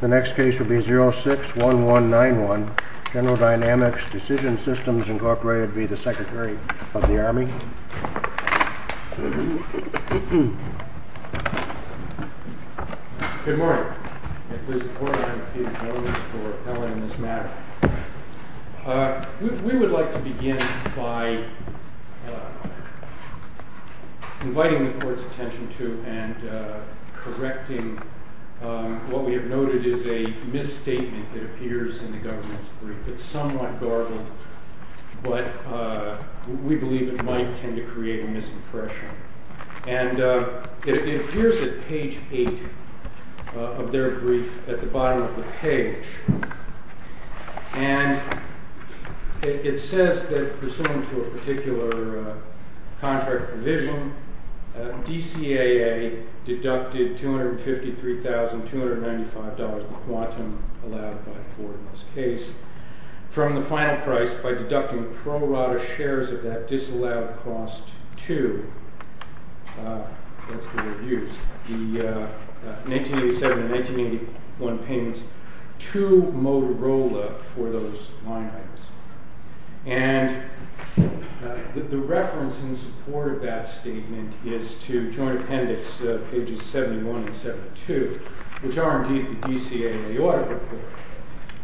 The next case will be 06-1191, General Dynamics Decision Systems, Inc. v. Secretary of the Army. We would like to begin by inviting the court's attention to and correcting what we have noted is a misstatement that appears in the government's brief. It's somewhat garbled, but we believe it might tend to create a misimpression. It appears at page 8 of their brief at the bottom of the page. It says that, pursuant to a particular contract provision, DCAA deducted $253,295, the quantum allowed by Ford in this case, from the final price by deducting pro rata shares of that disallowed cost to, as the word used, the 1987 and 1981 payments to Motorola for those line items. The reference in support of that statement is to Joint Appendix pages 71 and 72, which are indeed the DCAA audit report.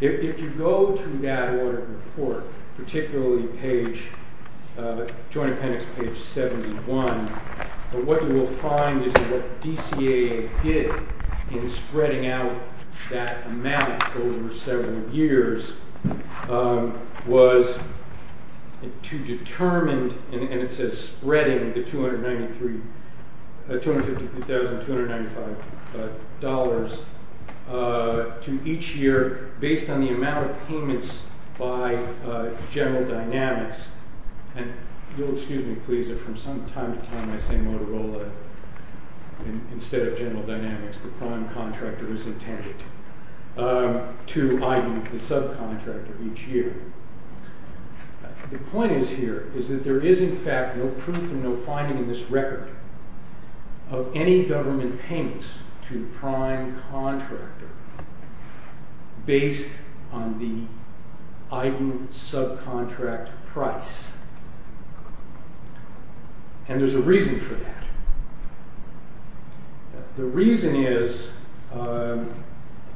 If you go to that audit report, particularly Joint Appendix page 71, what you will find is that what DCAA did in spreading out that amount over several years was to determine, and it says spreading, the $253,295 to each year based on the amount of payments by General Dynamics, and you'll excuse me please if from time to time I say Motorola instead of General Dynamics, the prime contractor is intended, to EIDN, the subcontractor, each year. The point is here is that there is in fact no proof and no finding in this record of any government payments to the prime contractor based on the EIDN subcontractor price, and there's a reason for that. The reason is, and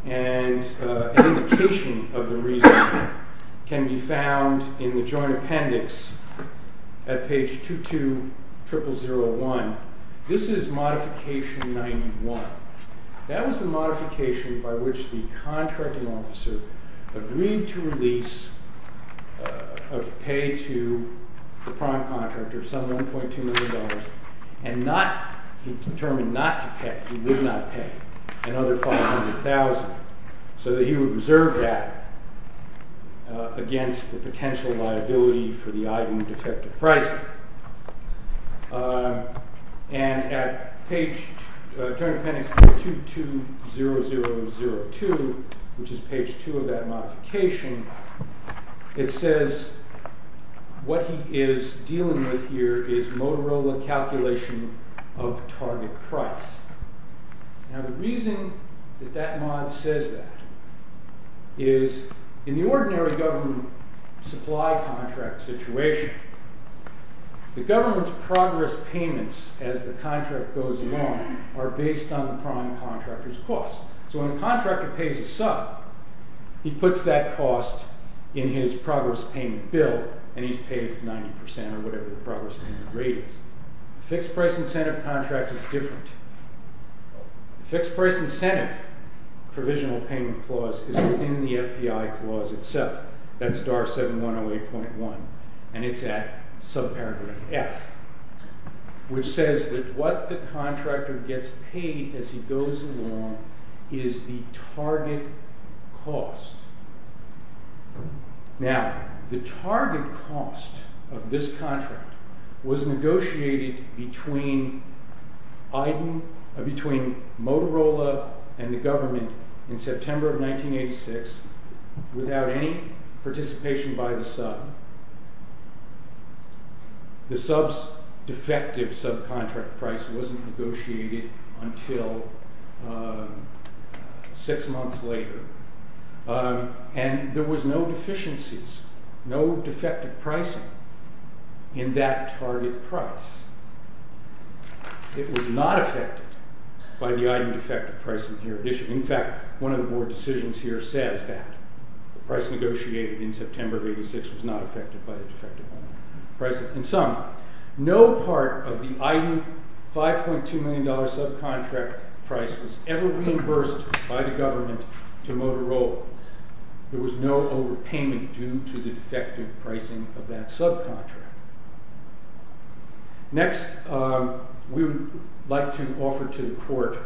an indication of the reason can be found in the Joint Appendix at page 220001. This is modification 91. That was the modification by which the contracting officer agreed to release a pay to the prime contractor of some $1.2 million and not, he determined not to pay, he would not pay another $500,000, so that he would reserve that against the potential liability for the EIDN defective pricing, and at page, Joint Appendix 220002, which is page 2 of that modification, it says what he is dealing with here is Motorola calculation of target price. Now the reason that that mod says that is in the ordinary government supply contract situation, the government's progress payments as the contract goes along are based on the prime contractor's cost. So when the contractor pays a sub, he puts that cost in his progress payment bill, and he's paid 90% or whatever the progress payment rate is. Fixed price incentive contract is different. Fixed price incentive provisional payment clause is within the FDI clause itself. That's DAR 7108.1, and it's at sub-paragraph F, which says that what the contractor gets paid as he goes along is the target cost. Now, the target cost of this contract was negotiated between Motorola and the government in September of 1986 without any participation by the sub. The sub's defective subcontract price wasn't negotiated until six months later, and there was no deficiencies, no defective pricing in that target price. It was not affected by the item defective pricing here. In fact, one of the board decisions here says that the price negotiated in September of 1986 was not affected by the defective pricing. In sum, no part of the item $5.2 million subcontract price was ever reimbursed by the government to Motorola. There was no overpayment due to the defective pricing of that subcontract. Next, we would like to offer to the court,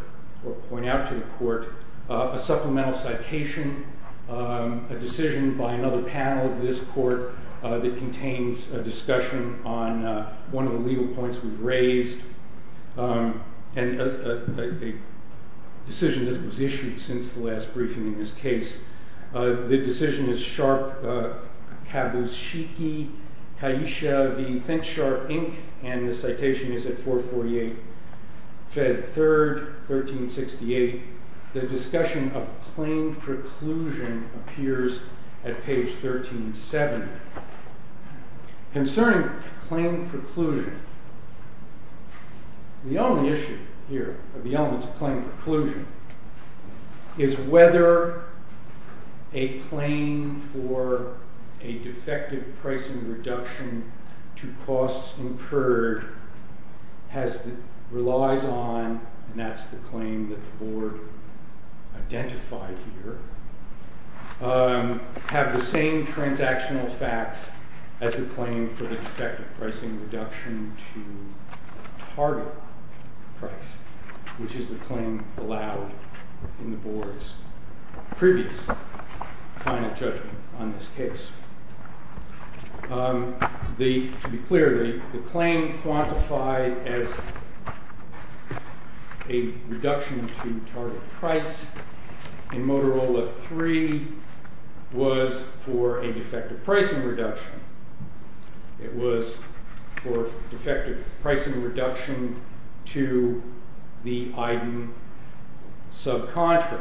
or point out to the court, a supplemental citation, a decision by another panel of this court that contains a discussion on one of the legal points we've raised, and a decision that was issued since the last briefing in this case. The decision is Sharp-Kabushiki-Kaisha v. ThinkSharp, Inc., and the citation is at 448 Fed 3rd, 1368. The discussion of claim preclusion appears at page 1370. Concerning claim preclusion, the only issue here of the elements of claim preclusion is whether a claim for a defective pricing reduction to costs incurred relies on, and that's the claim that the board identified here, have the same transactional facts as the claim for the defective pricing reduction to target price, which is the claim allowed in the board's previous final judgment on this case. To be clear, the claim quantified as a reduction to target price in Motorola 3 was for a defective pricing reduction. It was for a defective pricing reduction to the EIDN subcontract.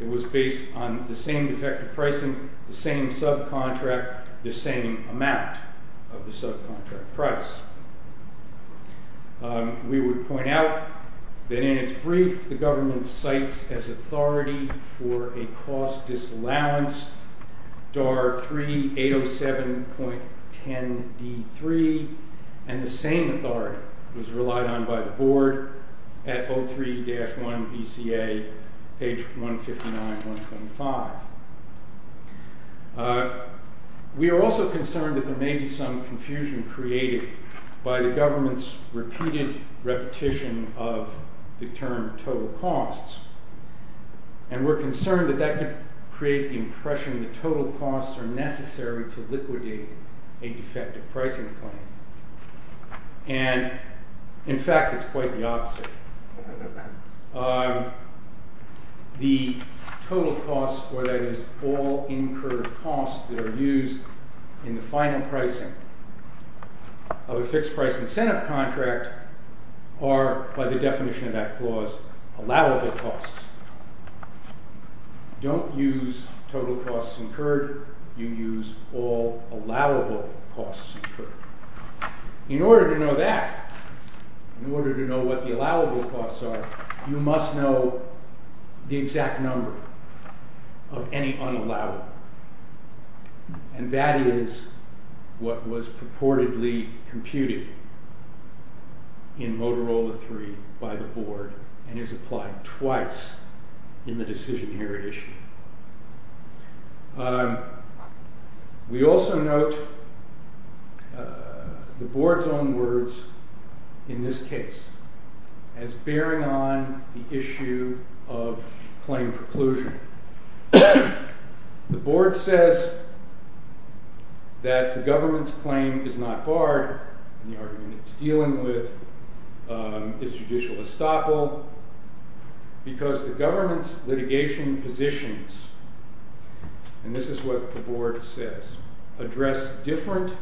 It was based on the same defective pricing, the same subcontract, the same amount of the subcontract price. We would point out that in its brief, the government cites as authority for a cost disallowance DAR 3-807.10-D3, and the same authority was relied on by the board at 03-1 BCA, page 159-125. We are also concerned that there may be some confusion created by the government's repeated repetition of the term total costs, and we're concerned that that could create the impression that total costs are necessary to liquidate a defective pricing claim. In fact, it's quite the opposite. The total costs, or that is, all incurred costs that are used in the final pricing of a fixed price incentive contract are, by the definition of that clause, allowable costs. Don't use total costs incurred. You use all allowable costs incurred. In order to know that, in order to know what the allowable costs are, you must know the exact number of any unallowable. And that is what was purportedly computed in Motorola 3 by the board, and is applied twice in the decision here at issue. We also note the board's own words in this case as bearing on the issue of claim preclusion. The board says that the government's claim is not barred in the argument it's dealing with its judicial estoppel because the government's litigation positions, and this is what the board says, address different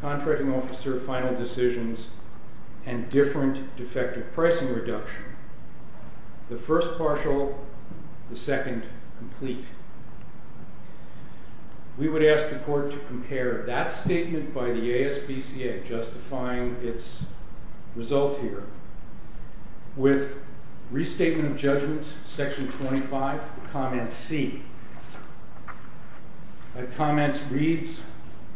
contracting officer final decisions and different defective pricing reduction. The first partial, the second complete. We would ask the court to compare that statement by the ASBCA, justifying its result here, with Restatement of Judgments, Section 25, Comments C. And Comments reads,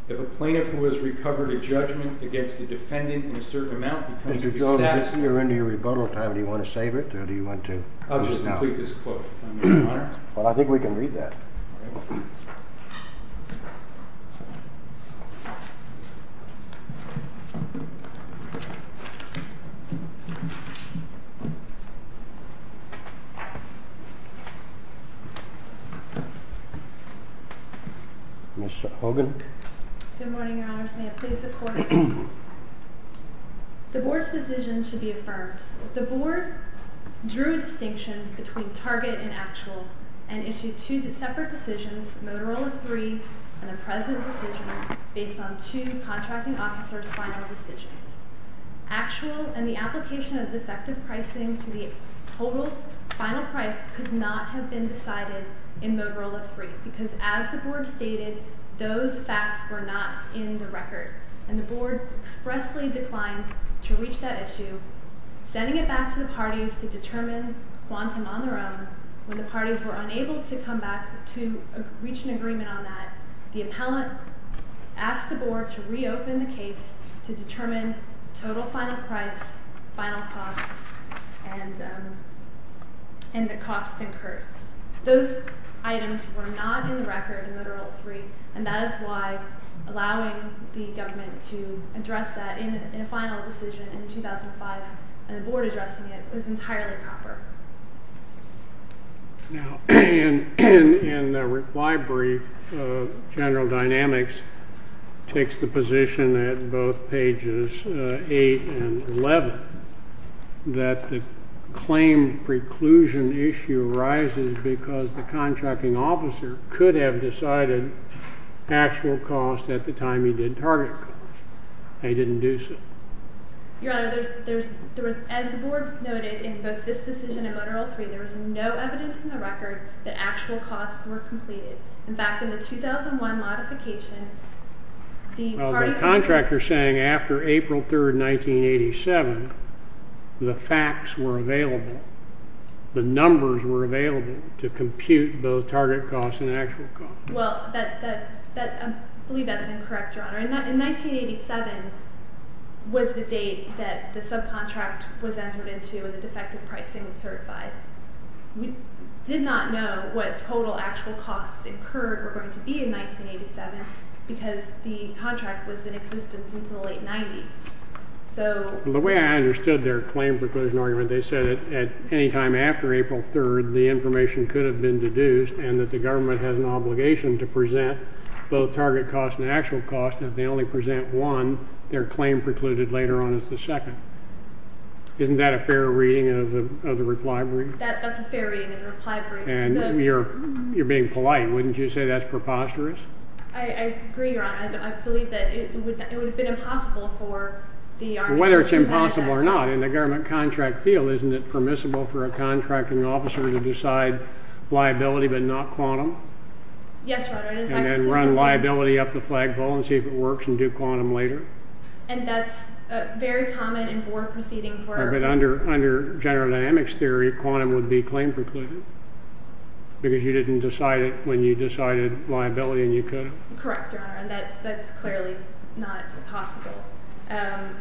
if a plaintiff who has recovered a judgment against a defendant in a certain amount becomes dissatisfied… Mr. Jordan, we're into your rebuttal time. Do you want to save it, or do you want to close it out? I'll just complete this quote, if I may, Your Honor. Well, I think we can read that. Ms. Hogan. Good morning, Your Honors. May it please the Court, the board's decision should be affirmed. The board drew a distinction between target and actual and issued two separate decisions, Motorola III and the present decision, based on two contracting officers' final decisions. Actual and the application of defective pricing to the total final price could not have been decided in Motorola III, because as the board stated, those facts were not in the record. And the board expressly declined to reach that issue, sending it back to the parties to determine quantum on their own. When the parties were unable to come back to reach an agreement on that, the appellant asked the board to reopen the case to determine total final price, final costs, and the costs incurred. Those items were not in the record in Motorola III, and that is why allowing the government to address that in a final decision in 2005 and the board addressing it was entirely proper. Now, in the reply brief, General Dynamics takes the position at both pages 8 and 11 that the claim preclusion issue arises because the contracting officer could have decided actual cost at the time he did target cost, and he didn't do so. Your Honor, as the board noted, in both this decision and Motorola III, there was no evidence in the record that actual costs were completed. In fact, in the 2001 modification, the parties… Well, the contractor is saying after April 3, 1987, the facts were available. The numbers were available to compute both target costs and actual costs. Well, I believe that's incorrect, Your Honor. In 1987 was the date that the subcontract was entered into and the defective pricing was certified. We did not know what total actual costs incurred were going to be in 1987 because the contract was in existence until the late 90s. The way I understood their claim preclusion argument, they said that at any time after April 3, the information could have been deduced and that the government has an obligation to present both target costs and actual costs. If they only present one, their claim precluded later on is the second. Isn't that a fair reading of the reply brief? That's a fair reading of the reply brief. And you're being polite. Wouldn't you say that's preposterous? I agree, Your Honor. I believe that it would have been impossible for the… Whether it's impossible or not, in the government contract field, isn't it permissible for a contracting officer to decide liability but not quantum? Yes, Your Honor. And then run liability up the flagpole and see if it works and do quantum later? And that's very common in board proceedings where… But under general dynamics theory, quantum would be claim precluded because you didn't decide it when you decided liability and you could have? Correct, Your Honor. And that's clearly not possible. And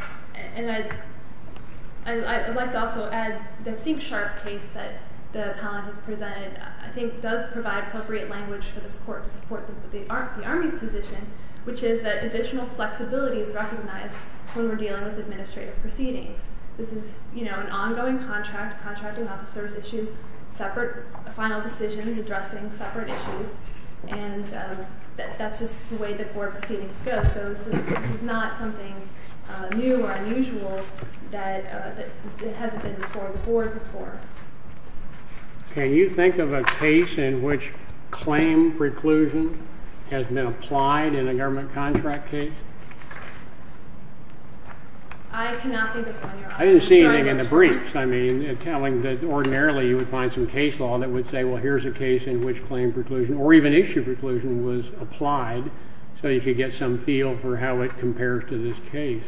I'd like to also add the think-sharp case that the appellant has presented, I think, does provide appropriate language for this court to support the Army's position, which is that additional flexibility is recognized when we're dealing with administrative proceedings. This is an ongoing contract. Contracting officers issue separate final decisions addressing separate issues, and that's just the way the board proceedings go. So this is not something new or unusual that hasn't been before the board before. Can you think of a case in which claim preclusion has been applied in a government contract case? I cannot think of one, Your Honor. I didn't see anything in the briefs, I mean, telling that ordinarily you would find some case law that would say, well, here's a case in which claim preclusion or even issue preclusion was applied so you could get some feel for how it compares to this case.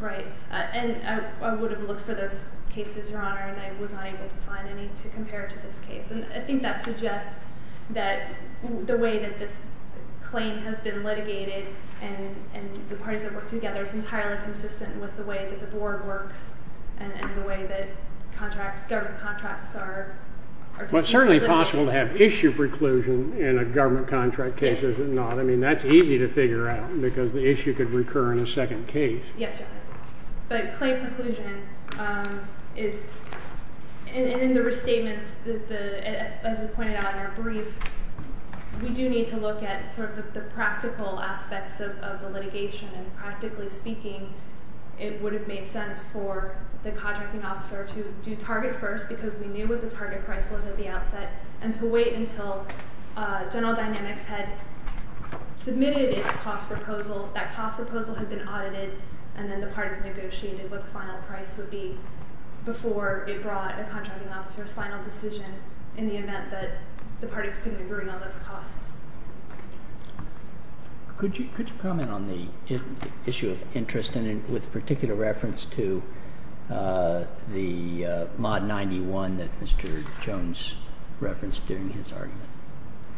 Right. And I would have looked for those cases, Your Honor, and I was not able to find any to compare to this case. And I think that suggests that the way that this claim has been litigated and the parties have worked together is entirely consistent with the way that the board works and the way that government contracts are dispensable litigation. Well, it's certainly possible to have issue preclusion in a government contract case, is it not? I mean, that's easy to figure out because the issue could recur in a second case. Yes, Your Honor. But claim preclusion is, in the restatements, as we pointed out in our brief, we do need to look at sort of the practical aspects of the litigation, and practically speaking, it would have made sense for the contracting officer to do target first because we knew what the target price was at the outset and to wait until General Dynamics had submitted its cost proposal, that cost proposal had been audited, and then the parties negotiated what the final price would be before it brought a contracting officer's final decision in the event that the parties couldn't agree on those costs. Could you comment on the issue of interest and with particular reference to the mod 91 that Mr. Jones referenced during his argument,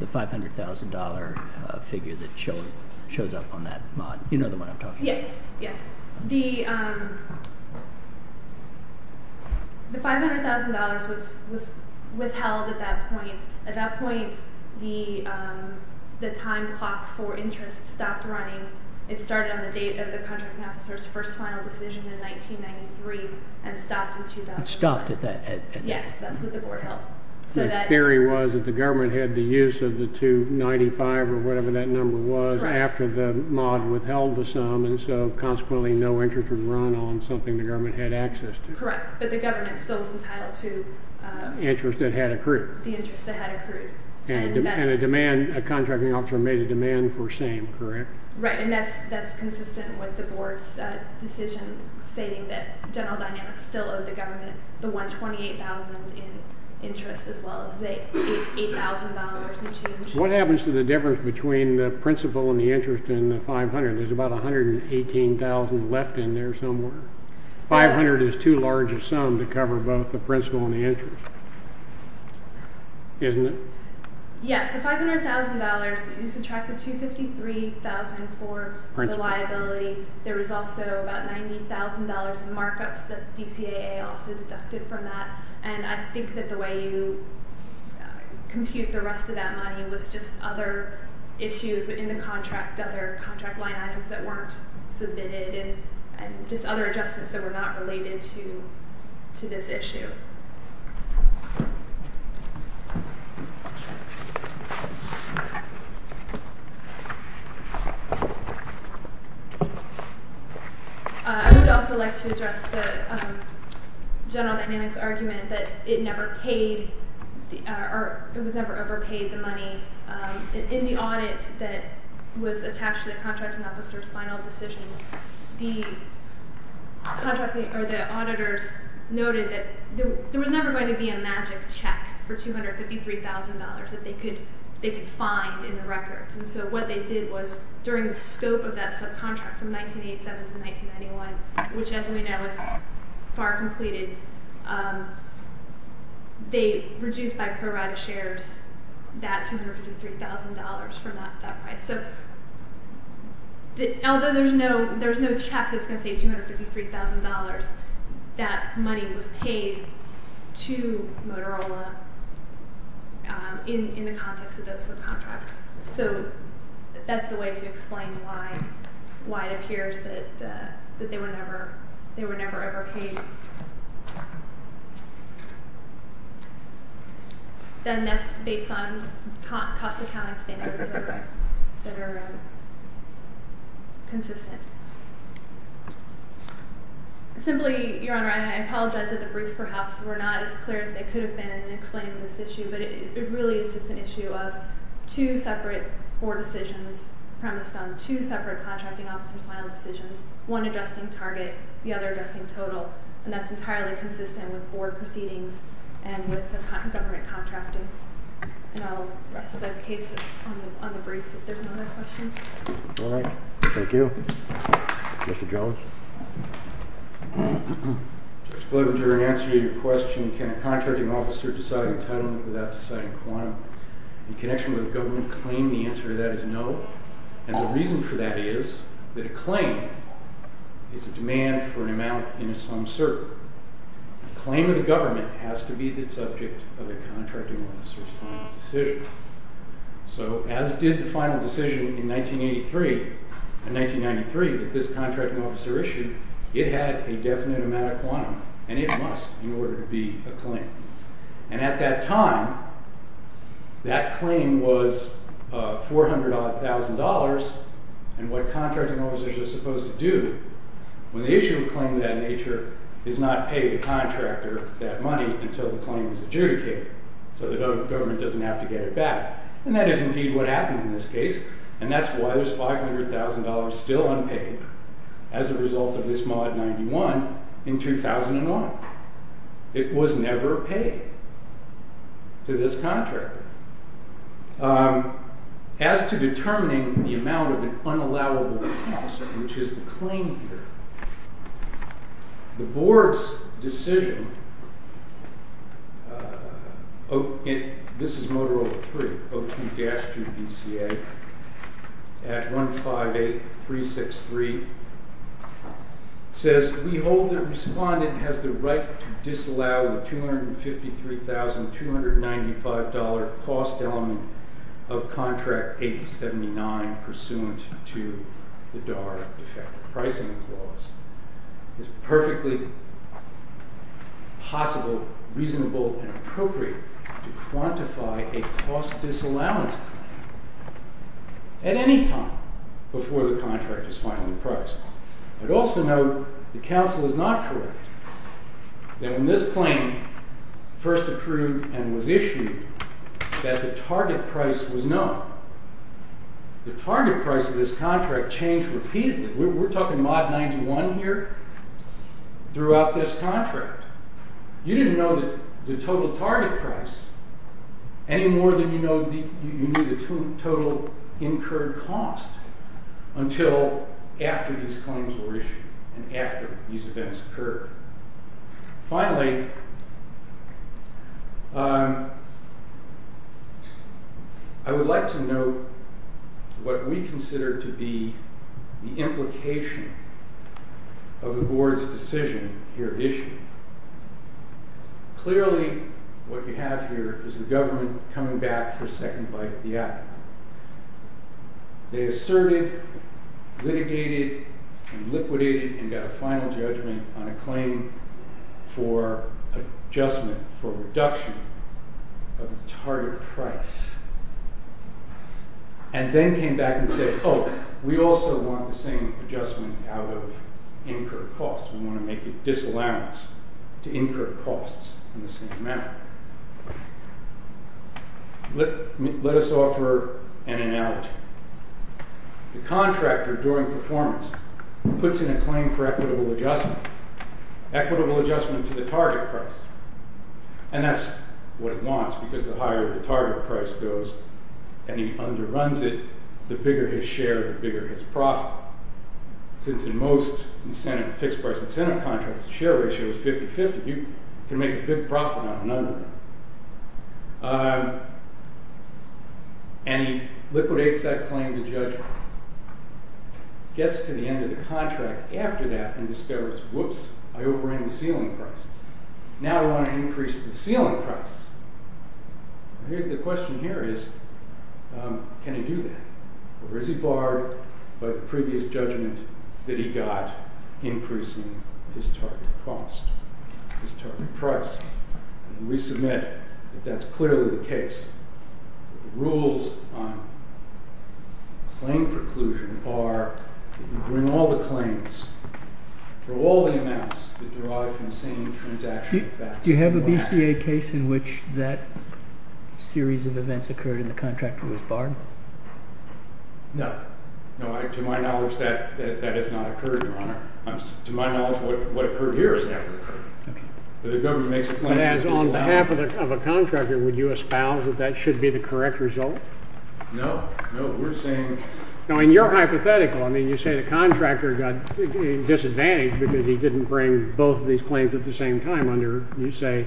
the $500,000 figure that shows up on that mod? You know the one I'm talking about. Yes, yes. The $500,000 was withheld at that point. At that point, the time clock for interest stopped running. It started on the date of the contracting officer's first final decision in 1993 and stopped in 2005. It stopped at that date. Yes, that's what the board held. The theory was that the government had the use of the $295,000 or whatever that number was after the mod withheld the sum, and so consequently no interest was run on something the government had access to. Correct, but the government still was entitled to… Interest that had accrued. The interest that had accrued. And a demand, a contracting officer made a demand for same, correct? Right, and that's consistent with the board's decision stating that General Dynamics still owed the government the $128,000 in interest as well as the $8,000 in change. What happens to the difference between the principal and the interest in the $500,000? There's about $118,000 left in there somewhere. $500,000 is too large a sum to cover both the principal and the interest, isn't it? Yes, the $500,000, you subtract the $253,000 for the liability. There was also about $90,000 in markups that DCAA also deducted from that, and I think that the way you compute the rest of that money was just other issues within the contract, other contract line items that weren't submitted and just other adjustments that were not related to this issue. I would also like to address the General Dynamics argument that it never paid or it was never overpaid, the money. In the audit that was attached to the contracting officer's final decision, the auditors noted that there was never going to be a magic check for $253,000 that they could find in the records, and so what they did was during the scope of that subcontract from 1987 to 1991, which as we know is far completed, they reduced by pro rata shares that $253,000 from that price. So although there's no check that's going to say $253,000, that money was paid to Motorola in the context of those subcontracts. So that's the way to explain why it appears that they were never ever paid. Then that's based on cost accounting standards that are consistent. Simply, Your Honor, I apologize that the briefs perhaps were not as clear as they could have been in explaining this issue, but it really is just an issue of two separate board decisions premised on two separate contracting officers' final decisions, one adjusting target, the other adjusting total, and that's entirely consistent with board proceedings and with the government contracting. And I'll rest that case on the briefs if there's no other questions. All right. Thank you. Mr. Jones? Judge Bloominger, in answer to your question, can a contracting officer decide entitlement without deciding quantum? In connection with the government claim, the answer to that is no, and the reason for that is that a claim is a demand for an amount in some certain. The claim of the government has to be the subject of the contracting officer's final decision. So as did the final decision in 1983 and 1993 that this contracting officer issued, it had a definite amount of quantum, and it must, in order to be a claim. And at that time, that claim was $400,000, and what contracting officers are supposed to do when they issue a claim of that nature is not pay the contractor that money until the claim is adjudicated so the government doesn't have to get it back. And that is indeed what happened in this case, and that's why there's $500,000 still unpaid as a result of this mod 91 in 2001. It was never paid to this contractor. As to determining the amount of an unallowable composite, which is the claim here, the board's decision, this is Motorola 3, 02-2 BCA, at 158363, says, we hold that the respondent has the right to disallow the $253,295 cost element of contract 879 pursuant to the DARRA Defective Pricing Clause. It is perfectly possible, reasonable, and appropriate to quantify a cost disallowance claim at any time before the contract is finally priced. I'd also note the counsel is not correct, that when this claim first approved and was issued, that the target price was known. The target price of this contract changed repeatedly. We're talking mod 91 here throughout this contract. You didn't know the total target price any more than you knew the total incurred cost until after these claims were issued and after these events occurred. Finally, I would like to note what we consider to be the implication of the board's decision here issued. Clearly, what you have here is the government coming back for a second bite at the apple. They asserted, litigated, liquidated, and got a final judgment on a claim for adjustment, for reduction of the target price, and then came back and said, oh, we also want the same adjustment out of incurred costs. We want to make a disallowance to incur costs in the same manner. Let us offer an analogy. The contractor, during performance, puts in a claim for equitable adjustment, equitable adjustment to the target price, and that's what it wants, because the higher the target price goes and he underruns it, the bigger his share, the bigger his profit. Since in most fixed-price incentive contracts, the share ratio is 50-50, you can make a big profit on another one. And he liquidates that claim to judgment, gets to the end of the contract after that, and discovers, whoops, I overran the ceiling price. Now I want to increase the ceiling price. The question here is, can he do that? Or is he barred by the previous judgment that he got increasing his target cost, his target price? And we submit that that's clearly the case. The rules on claim preclusion are that you bring all the claims for all the amounts that derive from the same transaction effects. Do you have a BCA case in which that series of events occurred and the contractor was barred? No. To my knowledge, that has not occurred, Your Honor. To my knowledge, what occurred here has never occurred. The government makes a claim to disallow it. On behalf of a contractor, would you espouse that that should be the correct result? No. No, we're saying... No, and you're hypothetical. I mean, you say the contractor got disadvantaged because he didn't bring both of these claims at the same time under, you say...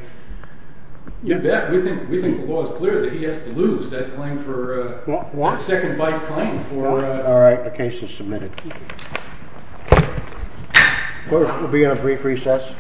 Yeah, we think the law is clear that he has to lose that claim for... What? The second bike claim for... All right, the case is submitted. We'll be on a brief recess.